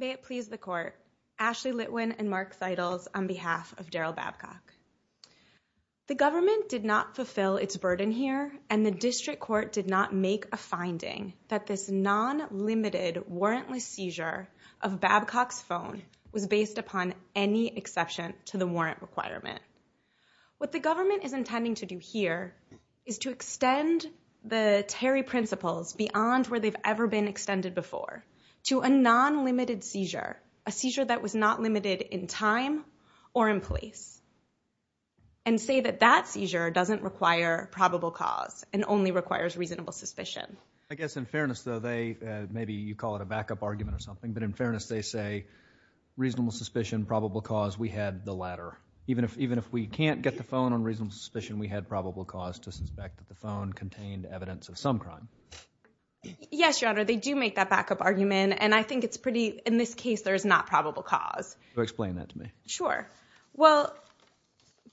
May it please the Court, Ashley Litwin and Mark Seidels on behalf of Darrell Babcock. The government did not fulfill its burden here, and the District Court did not make a finding that this non-limited warrantless seizure of Babcock's phone was based upon any exception to the warrant requirement. What the government is intending to do here is to extend the Terry principles beyond where they've ever been extended before to a non-limited seizure, a seizure that was not limited in time or in place, and say that that seizure doesn't require probable cause and only requires reasonable suspicion. I guess in fairness though, they, maybe you call it a backup argument or something, but in fairness they say reasonable suspicion, probable cause, we had the latter. Even if we can't get the phone on reasonable suspicion, we had probable cause to suspect that the phone contained evidence of some crime. Yes, Your Honor, they do make that backup argument, and I think it's pretty, in this case there is not probable cause. So explain that to me. Sure. Well,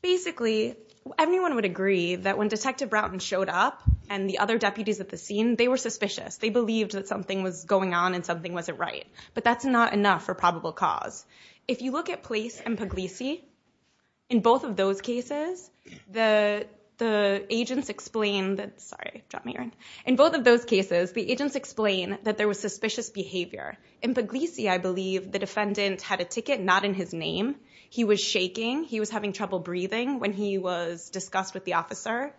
basically, everyone would agree that when Detective Brownton showed up and the other deputies at the scene, they were suspicious. They believed that something was going on and something wasn't right. But that's not enough for probable cause. If you look at Place and Puglisi, in both of those cases, the agents explained, sorry, dropped my earring, in both of those cases, the agents explained that there was suspicious behavior. In Puglisi, I believe, the defendant had a ticket not in his name. He was shaking. He was having trouble breathing when he was discussed with the officer.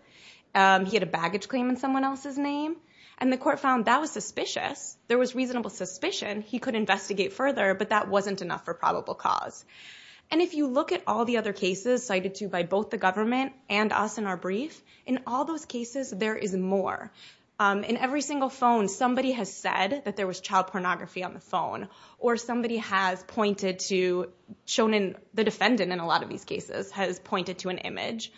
He had a baggage claim in someone else's name. And the court found that was suspicious. There was reasonable suspicion. He could investigate further, but that wasn't enough for probable cause. And if you look at all the other cases cited to by both the government and us in our brief, in all those cases, there is more. In every single phone, somebody has said that there was child pornography on the phone, or somebody has pointed to, shown in the defendant in a lot of these cases, has pointed to an image,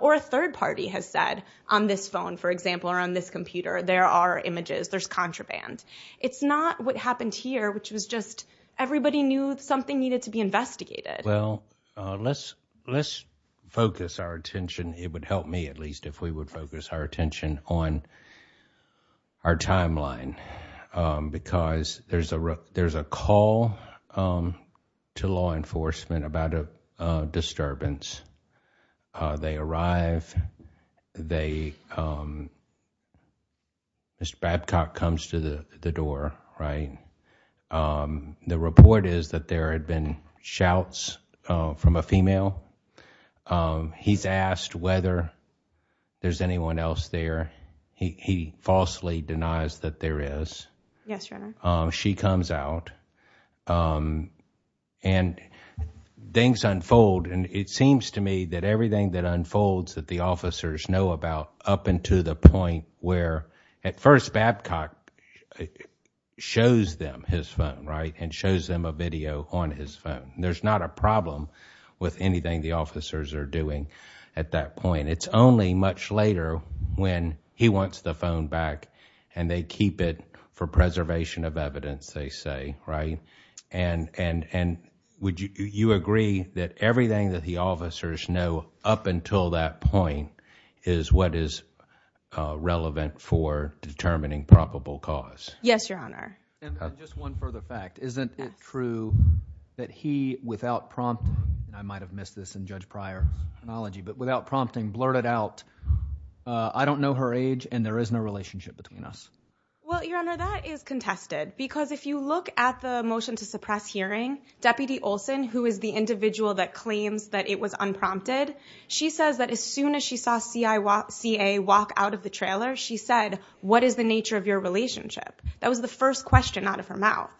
or a third party has said, on this phone, for example, or on this computer, there are images, there's contraband. It's not what happened here, which was just everybody knew something needed to be investigated. Well, let's focus our attention, it would help me at least, if we would focus our attention on our timeline, because there's a call to law enforcement about a disturbance. They arrive, they, Mr. Babcock comes to the door, right? The report is that there had been shouts from a female. He's asked whether there's anyone else there. He falsely denies that there is. Yes, Your Honor. She comes out, and things unfold. And it seems to me that everything that unfolds that the officers know about up into the point where, at first, Babcock shows them his phone, right? And shows them a video on his phone. There's not a problem with anything the officers are doing at that point. It's only much later when he wants the phone back, and they keep it for preservation of evidence, they say, right? And would you agree that everything that the officers know up until that point is what is relevant for determining probable cause? Yes, Your Honor. And just one further fact. Isn't it true that he, without prompting, and I might have missed this in Judge Pryor's analogy, but without prompting, blurted out, I don't know her age, and there is no relationship between us? Well, Your Honor, that is contested. Because if you look at the motion to suppress hearing, Deputy Olson, who is the individual that claims that it was unprompted, she says that as soon as she saw CA walk out of the trailer, she said, what is the nature of your relationship? That was the first question out of her mouth.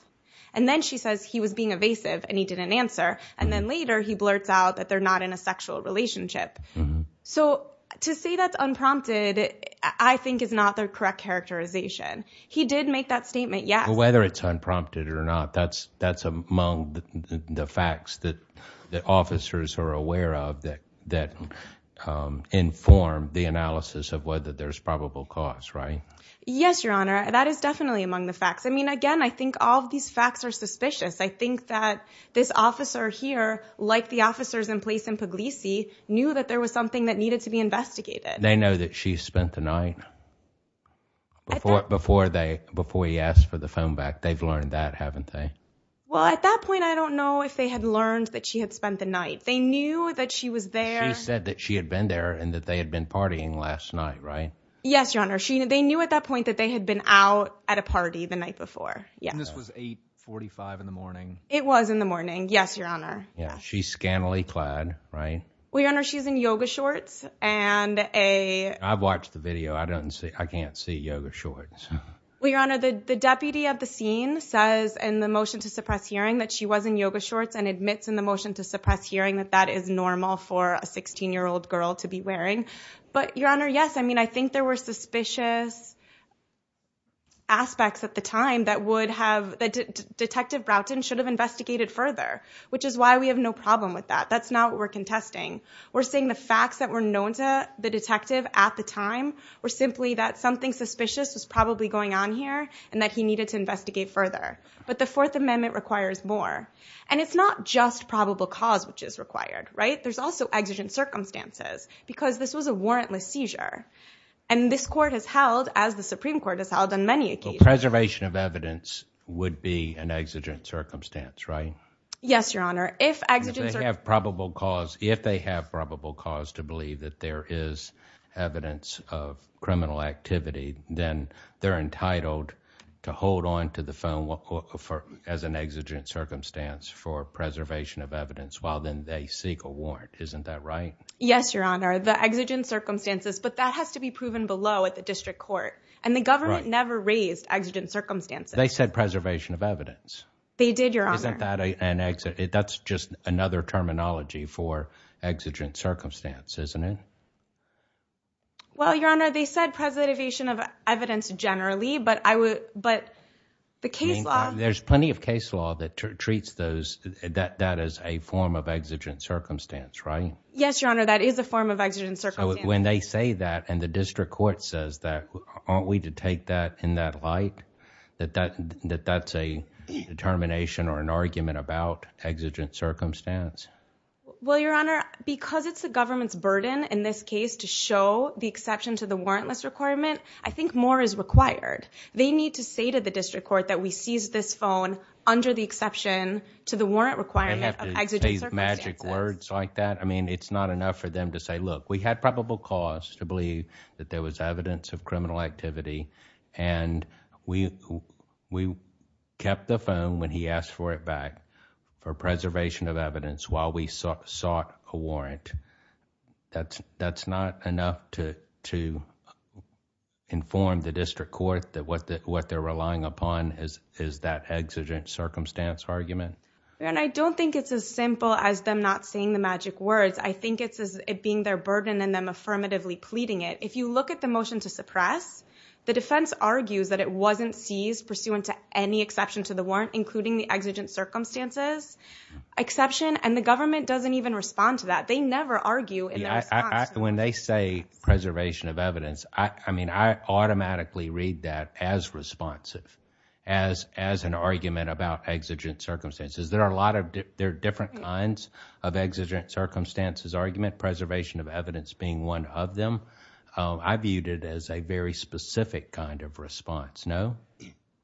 And then she says he was being evasive, and he didn't answer. And then later, he blurts out that they're not in a sexual relationship. So to say that's unprompted, I think is not the correct characterization. He did make that statement, yes. Whether it's unprompted or not, that's among the facts that the officers are aware of that inform the analysis of whether there's probable cause, right? Yes, Your Honor. That is definitely among the facts. I mean, again, I think all of these facts are suspicious. I think that this officer here, like the officers in place in Puglisi, knew that there was something that needed to be investigated. They know that she spent the night before he asked for the phone back. They've learned that, haven't they? Well, at that point, I don't know if they had learned that she had spent the night. They knew that she was there. She said that she had been there and that they had been partying last night, right? Yes, Your Honor. They knew at that point that they had been out at a party the night before. And this was 8.45 in the morning? It was in the morning, yes, Your Honor. She's scantily clad, right? Well, Your Honor, she's in yoga shorts and a... I've watched the video. I can't see yoga shorts. Well, Your Honor, the deputy of the scene says in the motion to suppress hearing that she was in yoga shorts and admits in the motion to suppress hearing that that is normal for a 16-year-old girl to be wearing. But, Your Honor, yes, I mean, I think there were suspicious aspects at the time that would have... That Detective Broughton should have investigated further, which is why we have no problem with that. That's not what we're contesting. We're saying the facts that were known to the detective at the time were simply that something suspicious was probably going on here and that he needed to investigate further. But the Fourth Amendment requires more. And it's not just probable cause which is required, right? There's also exigent circumstances because this was a warrantless seizure. And this court has held, as the Supreme Court has held on many occasions... Preservation of evidence would be an exigent circumstance, right? Yes, Your Honor. If exigent... If they have probable cause to believe that there is evidence of criminal activity, then they're entitled to hold on to the phone as an exigent circumstance for preservation of warrant. Isn't that right? Yes, Your Honor. The exigent circumstances. But that has to be proven below at the district court. And the government never raised exigent circumstances. They said preservation of evidence. They did, Your Honor. That's just another terminology for exigent circumstance, isn't it? Well, Your Honor, they said preservation of evidence generally, but I would... But the case law... Yes, Your Honor. That is a form of exigent circumstance. So when they say that and the district court says that, aren't we to take that in that light that that's a determination or an argument about exigent circumstance? Well, Your Honor, because it's the government's burden in this case to show the exception to the warrantless requirement, I think more is required. They need to say to the district court that we seize this phone under the exception to the warrant requirement of exigent circumstances. I mean, to say these magic words like that, I mean, it's not enough for them to say, look, we had probable cause to believe that there was evidence of criminal activity and we kept the phone when he asked for it back for preservation of evidence while we sought a warrant. That's not enough to inform the district court that what they're relying upon is that exigent circumstance argument. Your Honor, I don't think it's as simple as them not saying the magic words. I think it's as it being their burden and them affirmatively pleading it. If you look at the motion to suppress, the defense argues that it wasn't seized pursuant to any exception to the warrant, including the exigent circumstances exception, and the government doesn't even respond to that. They never argue in their response. When they say preservation of evidence, I mean, I automatically read that as responsive, as an argument about exigent circumstances. There are different kinds of exigent circumstances argument, preservation of evidence being one of them. I viewed it as a very specific kind of response. No?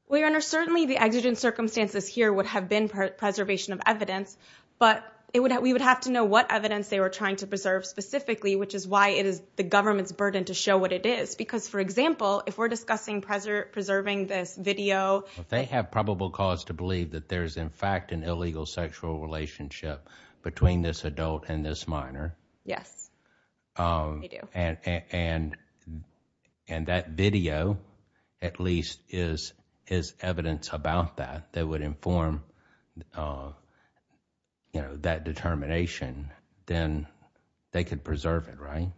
Well, Your Honor, certainly the exigent circumstances here would have been preservation of evidence, but we would have to know what evidence they were trying to preserve specifically, which is why it is the government's burden to show what it is because, for example, if we're discussing preserving this video. They have probable cause to believe that there's, in fact, an illegal sexual relationship between this adult and this minor. Yes, they do. And that video, at least, is evidence about that. They would inform that determination, then they could preserve it, right?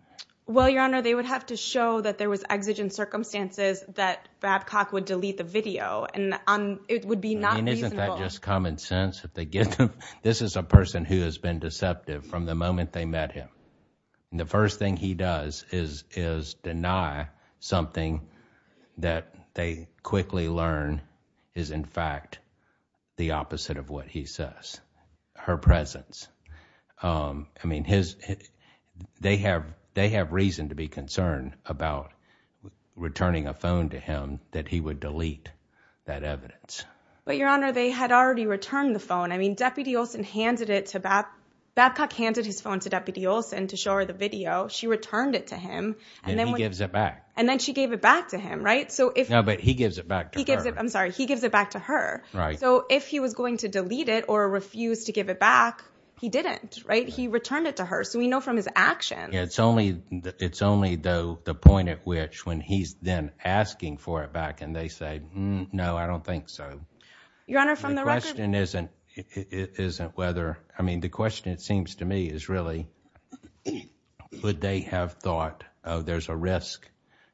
Well, Your Honor, they would have to show that there was exigent circumstances that Babcock would delete the video. It would be not reasonable. Isn't that just common sense? This is a person who has been deceptive from the moment they met him. The first thing he does is deny something that they quickly learn is, in fact, the opposite of what he says, her presence. I mean, they have reason to be concerned about returning a phone to him that he would delete that evidence. But, Your Honor, they had already returned the phone. I mean, Deputy Olson handed it to Babcock. Babcock handed his phone to Deputy Olson to show her the video. She returned it to him. And then he gives it back. And then she gave it back to him, right? No, but he gives it back to her. I'm sorry. He gives it back to her. So if he was going to delete it or refuse to give it back, he didn't, right? He returned it to her. So we know from his actions. It's only the point at which when he's then asking for it back and they say, no, I don't think so. Your Honor, from the record... The question isn't whether... I mean, the question, it seems to me, is really, would they have thought, oh, there's a risk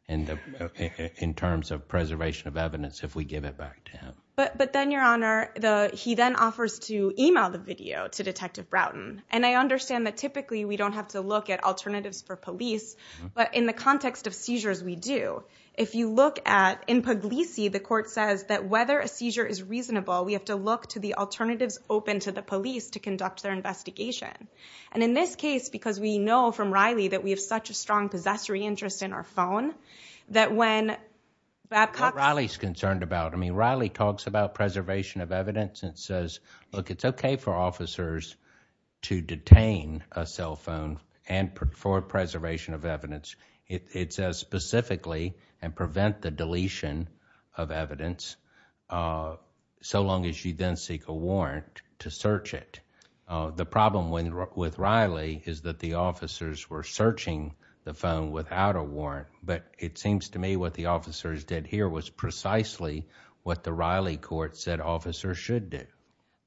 in terms of preservation of evidence if we give it back to him? But then, Your Honor, he then offers to email the video to Detective Broughton. And I understand that typically we don't have to look at alternatives for police, but in the context of seizures, we do. If you look at, in Puglisi, the court says that whether a seizure is reasonable, we have to look to the alternatives open to the police to conduct their investigation. And in this case, because we know from Riley that we have such a strong possessory interest in our phone, that when Babcock... What Riley's concerned about. I mean, Riley talks about preservation of evidence and says, look, it's okay for officers to detain a cell phone for preservation of evidence. It says specifically, and prevent the deletion of evidence, so long as you then seek a warrant to search it. The problem with Riley is that the officers were searching the phone without a warrant, but it seems to me what the officers did here was precisely what the Riley court said officers should do.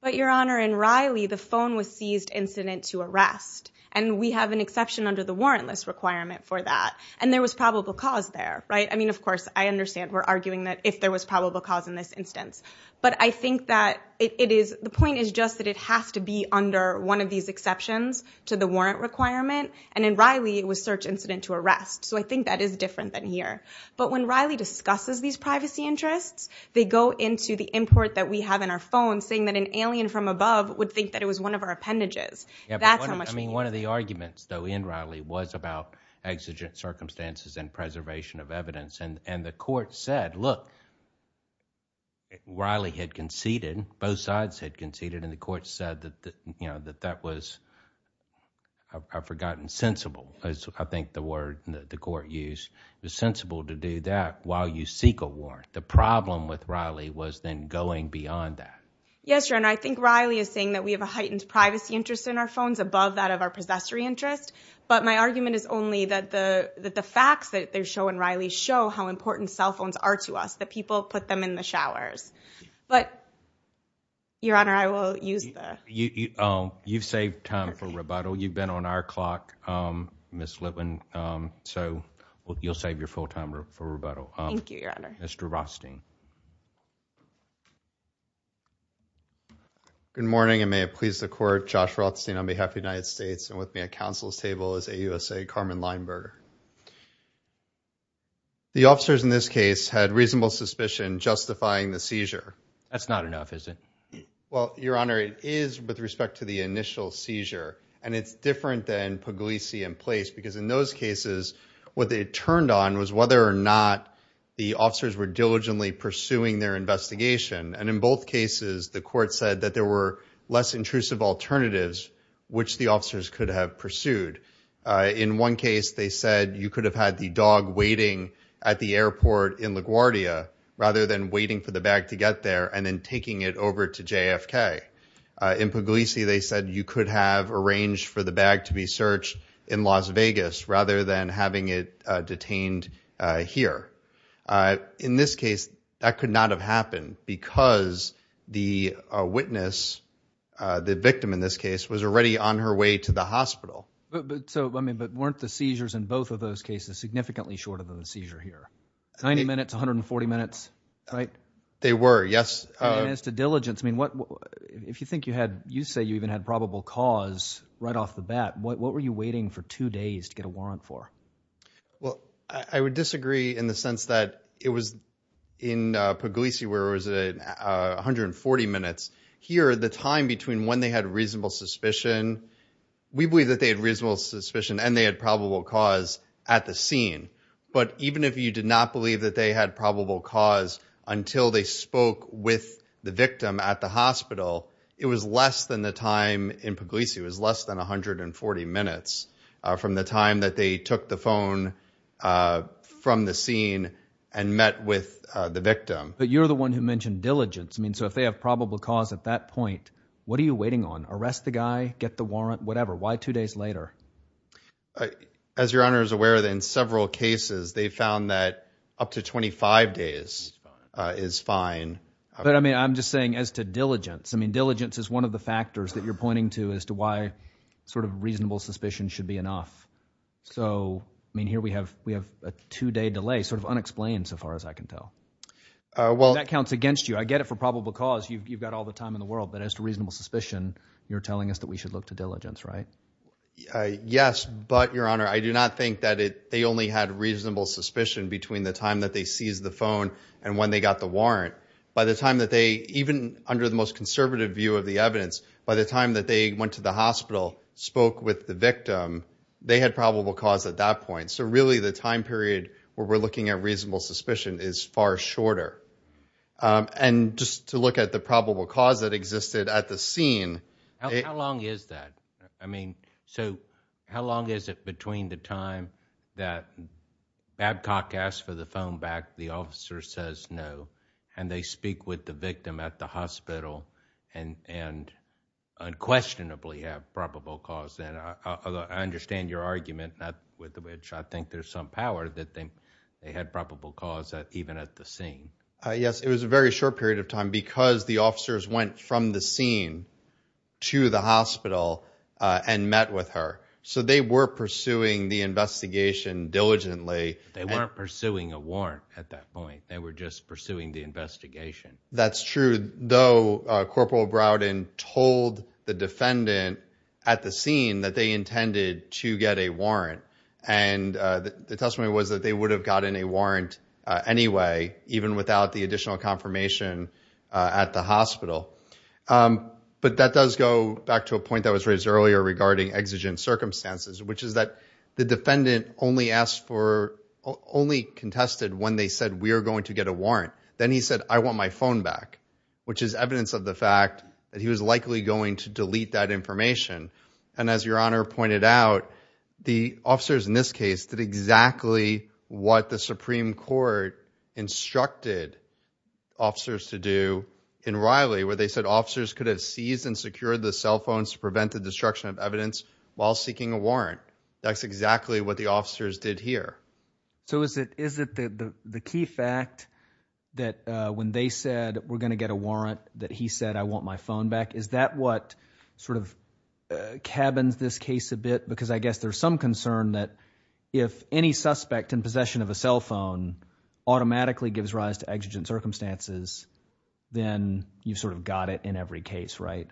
But, Your Honor, in Riley, the phone was seized incident to arrest, and we have an exception under the warrantless requirement for that, and there was probable cause there, right? I mean, of course, I understand we're arguing that if there was probable cause in this instance, but I think that it is... The point is just that it has to be under one of these exceptions to the warrant requirement, and in Riley, it was search incident to arrest. So I think that is different than here. But when Riley discusses these privacy interests, they go into the import that we have in our phone saying that an alien from above would think that it was one of our appendages. That's how much... I mean, one of the arguments, though, in Riley was about exigent circumstances and preservation of evidence, and the court said, look, Riley had conceded, both sides had conceded, and the court said that that was, I've forgotten, sensible, is I think the word that the court used. It was sensible to do that while you seek a warrant. The problem with Riley was then going beyond that. Yes, Your Honor. I think Riley is saying that we have a heightened privacy interest in our phones above that of our possessory interest, but my argument is only that the facts that they show in Riley show how important cell phones are to us, that people put them in the showers. But, Your Honor, I will use the... You've saved time for rebuttal. You've been on our clock, Ms. Litwin, so you'll save your full time for rebuttal. Thank you, Your Honor. Mr. Rothstein. Good morning, and may it please the court, Josh Rothstein on behalf of the United States and with me at counsel's table is AUSA Carmen Leinberger. The officers in this case had reasonable suspicion justifying the seizure. That's not enough, is it? Well, Your Honor, it is with respect to the initial seizure, and it's different than Puglisi in place because in those cases, what they turned on was whether or not the officers were diligently pursuing their investigation, and in both cases, the court said that there were less intrusive alternatives which the officers could have pursued. In one case, they said you could have had the dog waiting at the airport in LaGuardia rather than waiting for the bag to get there and then taking it over to JFK. In Puglisi, they said you could have arranged for the bag to be searched in Las Vegas rather than having it detained here. In this case, that could not have happened because the witness, the victim in this case, was already on her way to the hospital. But weren't the seizures in both of those cases significantly shorter than the seizure here? Ninety minutes, 140 minutes, right? They were, yes. And as to diligence, I mean, if you think you had, you say you even had probable cause right off the bat, what were you waiting for two days to get a warrant for? Well, I would disagree in the sense that it was in Puglisi where it was 140 minutes. Here, the time between when they had reasonable suspicion, we believe that they had reasonable suspicion and they had probable cause at the scene. But even if you did not believe that they had probable cause until they spoke with the victim at the hospital, it was less than the time in Puglisi, it was less than 140 minutes from the time that they took the phone from the scene and met with the victim. But you're the one who mentioned diligence. I mean, so if they have probable cause at that point, what are you waiting on? Arrest the guy, get the warrant, whatever. Why two days later? As your honor is aware that in several cases they found that up to 25 days is fine. But I mean, I'm just saying as to diligence, I mean, diligence is one of the factors that you're pointing to as to why sort of reasonable suspicion should be enough. So I mean, here we have, we have a two day delay sort of unexplained so far as I can tell. Well, that counts against you. But I get it for probable cause. You've got all the time in the world. But as to reasonable suspicion, you're telling us that we should look to diligence, right? Yes. But your honor, I do not think that they only had reasonable suspicion between the time that they seized the phone and when they got the warrant. By the time that they, even under the most conservative view of the evidence, by the time that they went to the hospital, spoke with the victim, they had probable cause at that point. So really the time period where we're looking at reasonable suspicion is far shorter. And just to look at the probable cause that existed at the scene. How long is that? I mean, so how long is it between the time that Babcock asked for the phone back, the officer says no, and they speak with the victim at the hospital and unquestionably have probable cause then? I understand your argument, not with which I think there's some power that they had probable cause even at the scene. Yes, it was a very short period of time because the officers went from the scene to the hospital and met with her. So they were pursuing the investigation diligently. They weren't pursuing a warrant at that point. They were just pursuing the investigation. That's true. Though, Corporal Browden told the defendant at the scene that they intended to get a warrant. And the testimony was that they would have gotten a warrant anyway, even without the additional confirmation at the hospital. But that does go back to a point that was raised earlier regarding exigent circumstances, which is that the defendant only asked for, only contested when they said, we are going to get a warrant. Then he said, I want my phone back, which is evidence of the fact that he was likely going to delete that information. And as your honor pointed out, the officers in this case did exactly what the Supreme Court instructed officers to do in Riley, where they said officers could have seized and secured the cell phones to prevent the destruction of evidence while seeking a warrant. That's exactly what the officers did here. So is it the key fact that when they said we're going to get a warrant, that he said, I want my phone back? Is that what sort of cabins this case a bit? Because I guess there's some concern that if any suspect in possession of a cell phone automatically gives rise to exigent circumstances, then you've sort of got it in every case, right?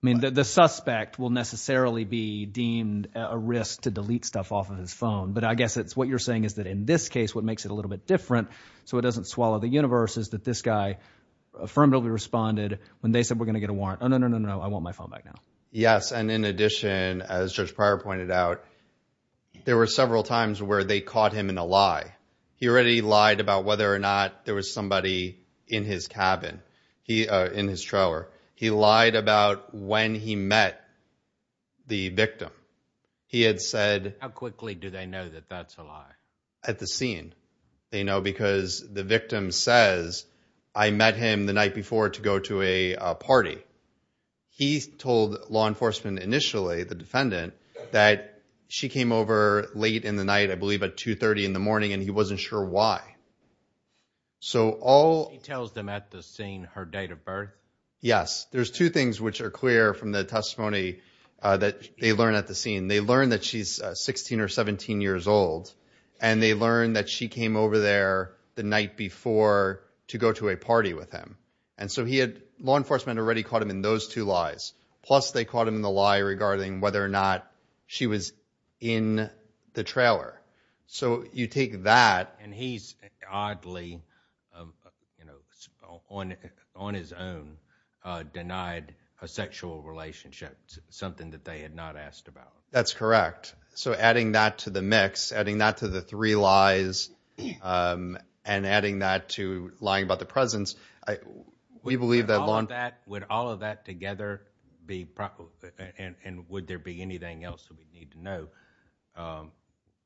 I mean, the suspect will necessarily be deemed a risk to delete stuff off of his phone. But I guess it's what you're saying is that in this case, what makes it a little bit different so it doesn't swallow the universe is that this guy affirmatively responded when they said we're going to get a warrant. Oh, no, no, no, no, no. I want my phone back now. Yes. And in addition, as just prior pointed out, there were several times where they caught him in a lie. He already lied about whether or not there was somebody in his cabin, he in his trailer. He lied about when he met the victim. He had said. How quickly do they know that that's a lie at the scene? They know because the victim says I met him the night before to go to a party. He told law enforcement initially the defendant that she came over late in the night, I believe at two thirty in the morning, and he wasn't sure why. So all he tells them at the scene, her date of birth. Yes. There's two things which are clear from the testimony that they learn at the scene. They learn that she's 16 or 17 years old and they learn that she came over there the night before to go to a party with him. And so he had law enforcement already caught him in those two lies. Plus, they caught him in the lie regarding whether or not she was in the trailer. So you take that and he's oddly, you know, on on his own denied a sexual relationship, something that they had not asked about. That's correct. So adding that to the mix, adding that to the three lies and adding that to lying about the presence, we believe that on that, with all of that together, the and would there be anything else that we need to know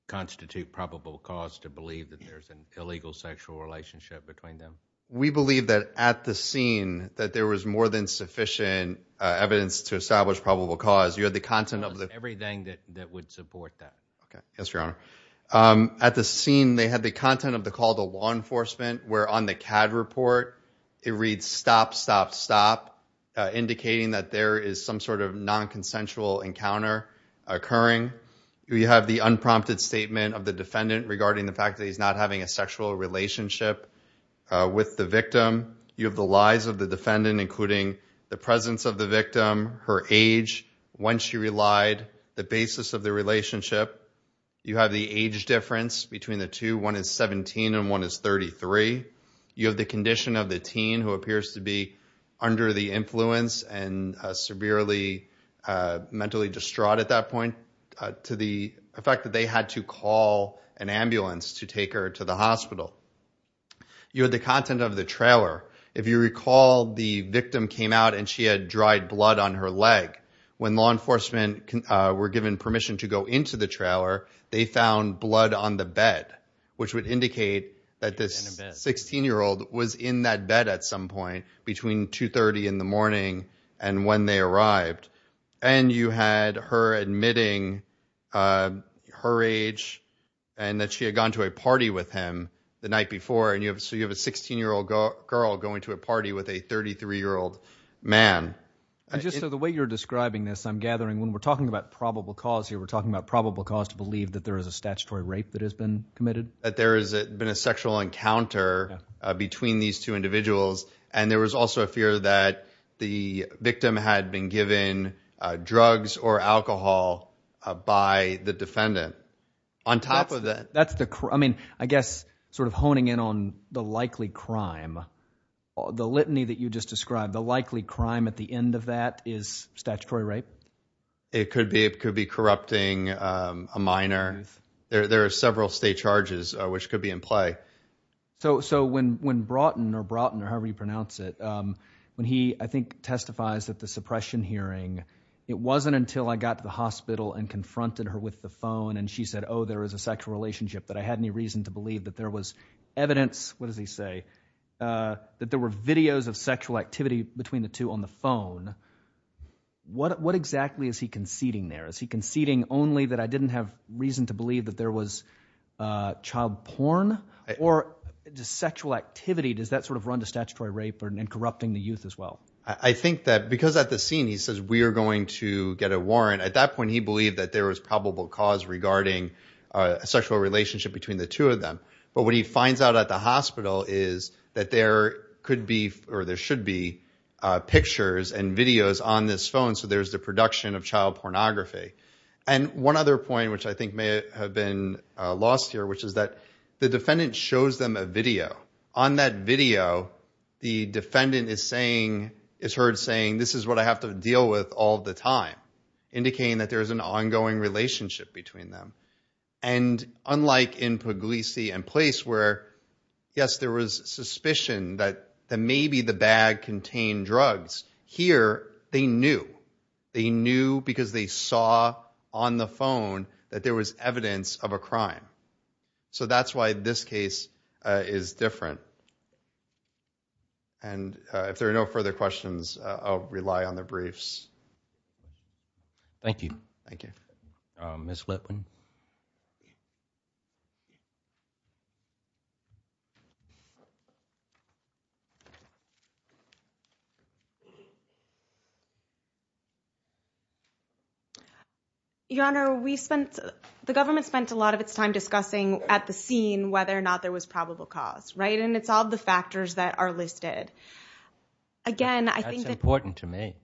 constitute probable cause to believe that there's an illegal sexual relationship between them? We believe that at the scene that there was more than sufficient evidence to establish probable cause. You had the content of everything that that would support that. Yes, Your Honor. At the scene, they had the content of the call to law enforcement where on the CAD report, it reads stop, stop, stop, indicating that there is some sort of nonconsensual encounter occurring. We have the unprompted statement of the defendant regarding the fact that he's not having a You have the lies of the defendant, including the presence of the victim, her age, when she relied the basis of the relationship. You have the age difference between the two. One is 17 and one is 33. You have the condition of the teen who appears to be under the influence and severely mentally distraught at that point to the effect that they had to call an ambulance to take her to the hospital. You had the content of the trailer. If you recall, the victim came out and she had dried blood on her leg. When law enforcement were given permission to go into the trailer, they found blood on the bed, which would indicate that this 16 year old was in that bed at some point between 2.30 in the morning and when they arrived. And you had her admitting her age and that she had gone to a party with him the night before. And so you have a 16 year old girl going to a party with a 33 year old man. So the way you're describing this, I'm gathering when we're talking about probable cause here, we're talking about probable cause to believe that there is a statutory rape that has been committed. That there has been a sexual encounter between these two individuals. And there was also a fear that the victim had been given drugs or alcohol by the defendant on top of that. That's the I mean, I guess sort of honing in on the likely crime, the litany that you just described, the likely crime at the end of that is statutory rape. It could be. It could be corrupting a minor. There are several state charges which could be in play. So when Broughton or Broughton or however you pronounce it, when he, I think, testifies that the suppression hearing, it wasn't until I got to the hospital and confronted her with the phone and she said, oh, there is a sexual relationship that I had any reason to believe that there was evidence. What does he say? That there were videos of sexual activity between the two on the phone. What exactly is he conceding there? Is he conceding only that I didn't have reason to believe that there was child porn? Or the sexual activity, does that sort of run to statutory rape and corrupting the youth as well? I think that because at the scene he says we are going to get a warrant at that point, he believed that there was probable cause regarding a sexual relationship between the two of them. But what he finds out at the hospital is that there could be or there should be pictures and videos on this phone. So there's the production of child pornography. And one other point which I think may have been lost here, which is that the defendant shows them a video. On that video, the defendant is saying, is heard saying, this is what I have to deal with all the time, indicating that there is an ongoing relationship between them. And unlike in Puglisi and Place where, yes, there was suspicion that maybe the bag contained drugs, here they knew. They knew because they saw on the phone that there was evidence of a crime. So that's why this case is different. And if there are no further questions, I'll rely on the briefs. Thank you. Thank you. Ms. Litwin? Your Honor, we spent, the government spent a lot of its time discussing at the scene whether or not there was probable cause, right? And it's all the factors that are listed. Again, I think that's important to me.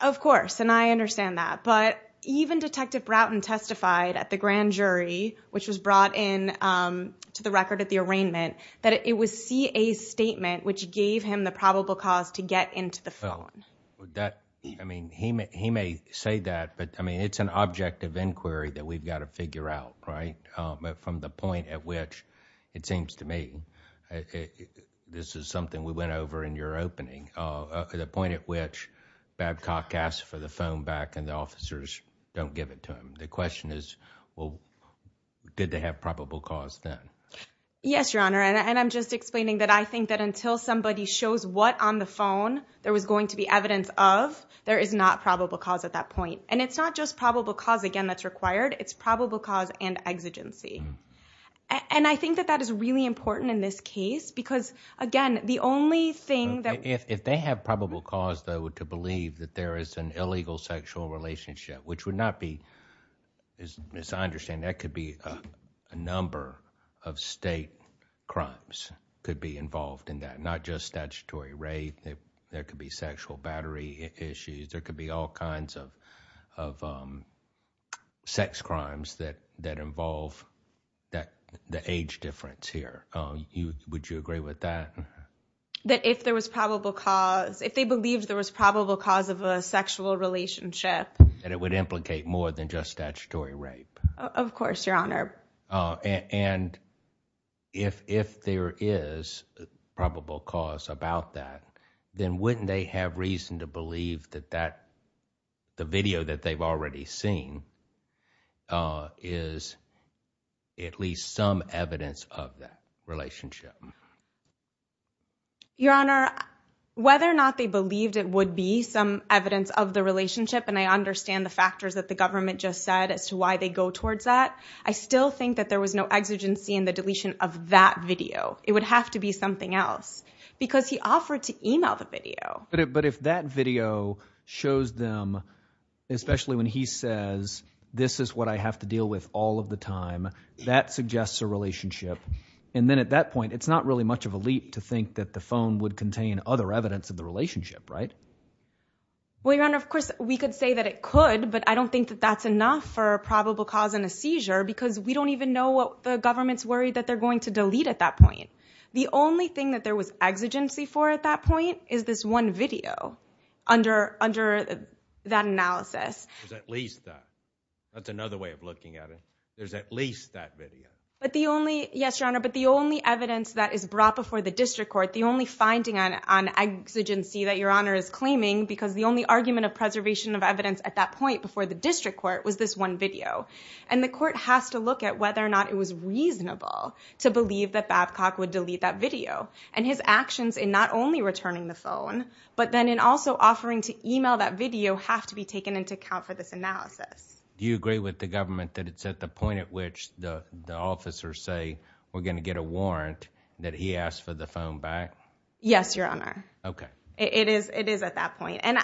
Of course. And I understand that. But even Detective Broughton testified at the grand jury, which was brought in to the record at the arraignment, that it was C.A.'s statement which gave him the probable cause to get into the phone. Well, that, I mean, he may say that, but I mean, it's an object of inquiry that we've got to figure out, right? From the point at which, it seems to me, this is something we went over in your opening, the point at which Babcock asks for the phone back and the officers don't give it to him. The question is, well, did they have probable cause then? Yes, Your Honor. And I'm just explaining that I think that until somebody shows what on the phone there was going to be evidence of, there is not probable cause at that point. And it's not just probable cause, again, that's required. It's probable cause and exigency. And I think that that is really important in this case because, again, the only thing If they have probable cause, though, to believe that there is an illegal sexual relationship, which would not be, as I understand, that could be a number of state crimes could be involved in that, not just statutory rape. There could be sexual battery issues. There could be all kinds of sex crimes that involve the age difference here. Would you agree with that? That if there was probable cause, if they believed there was probable cause of a sexual relationship. That it would implicate more than just statutory rape. Of course, Your Honor. And if there is probable cause about that, then wouldn't they have reason to believe that the video that they've already seen is at least some evidence of that relationship? Your Honor, whether or not they believed it would be some evidence of the relationship, and I understand the factors that the government just said as to why they go towards that, I still think that there was no exigency in the deletion of that video. It would have to be something else. Because he offered to email the video. But if that video shows them, especially when he says, this is what I have to deal with all of the time, that suggests a relationship. And then at that point, it's not really much of a leap to think that the phone would contain other evidence of the relationship, right? Well, Your Honor, of course, we could say that it could, but I don't think that that's enough for probable cause and a seizure because we don't even know what the government's worried that they're going to delete at that point. The only thing that there was exigency for at that point is this one video under that analysis. There's at least that. That's another way of looking at it. There's at least that video. But the only, yes, Your Honor, but the only evidence that is brought before the district court, the only finding on exigency that Your Honor is claiming, because the only argument of preservation of evidence at that point before the district court was this one video. And the court has to look at whether or not it was reasonable to believe that Babcock would delete that video and his actions in not only returning the phone, but then in also offering to email that video have to be taken into account for this analysis. Do you agree with the government that it's at the point at which the officers say we're going to get a warrant that he asked for the phone back? Yes, Your Honor. Okay. It is. It is at that point. And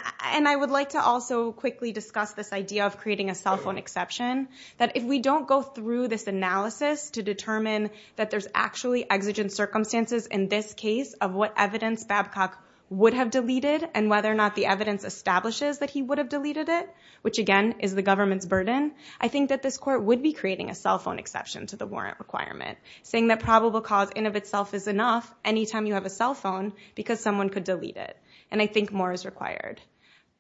I would like to also quickly discuss this idea of creating a cell phone exception. That if we don't go through this analysis to determine that there's actually exigent circumstances in this case of what evidence Babcock would have deleted and whether or not the evidence establishes that he would have deleted it, which again is the government's burden, I think that this court would be creating a cell phone exception to the warrant requirement, saying that probable cause in of itself is enough any time you have a cell phone because someone could delete it. And I think more is required.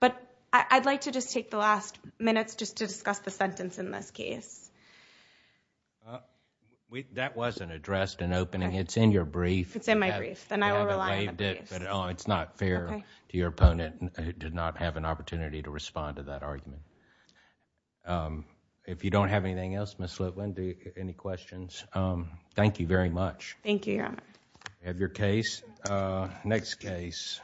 But I'd like to just take the last minutes just to discuss the sentence in this case. That wasn't addressed in opening. It's in your brief. It's in my brief. Then I will rely on that case. You haven't waived it, but it's not fair to your opponent who did not have an opportunity to respond to that argument. If you don't have anything else, Ms. Litwin, do you have any questions? Thank you very much. Thank you, Your Honor. You have your case. Next case.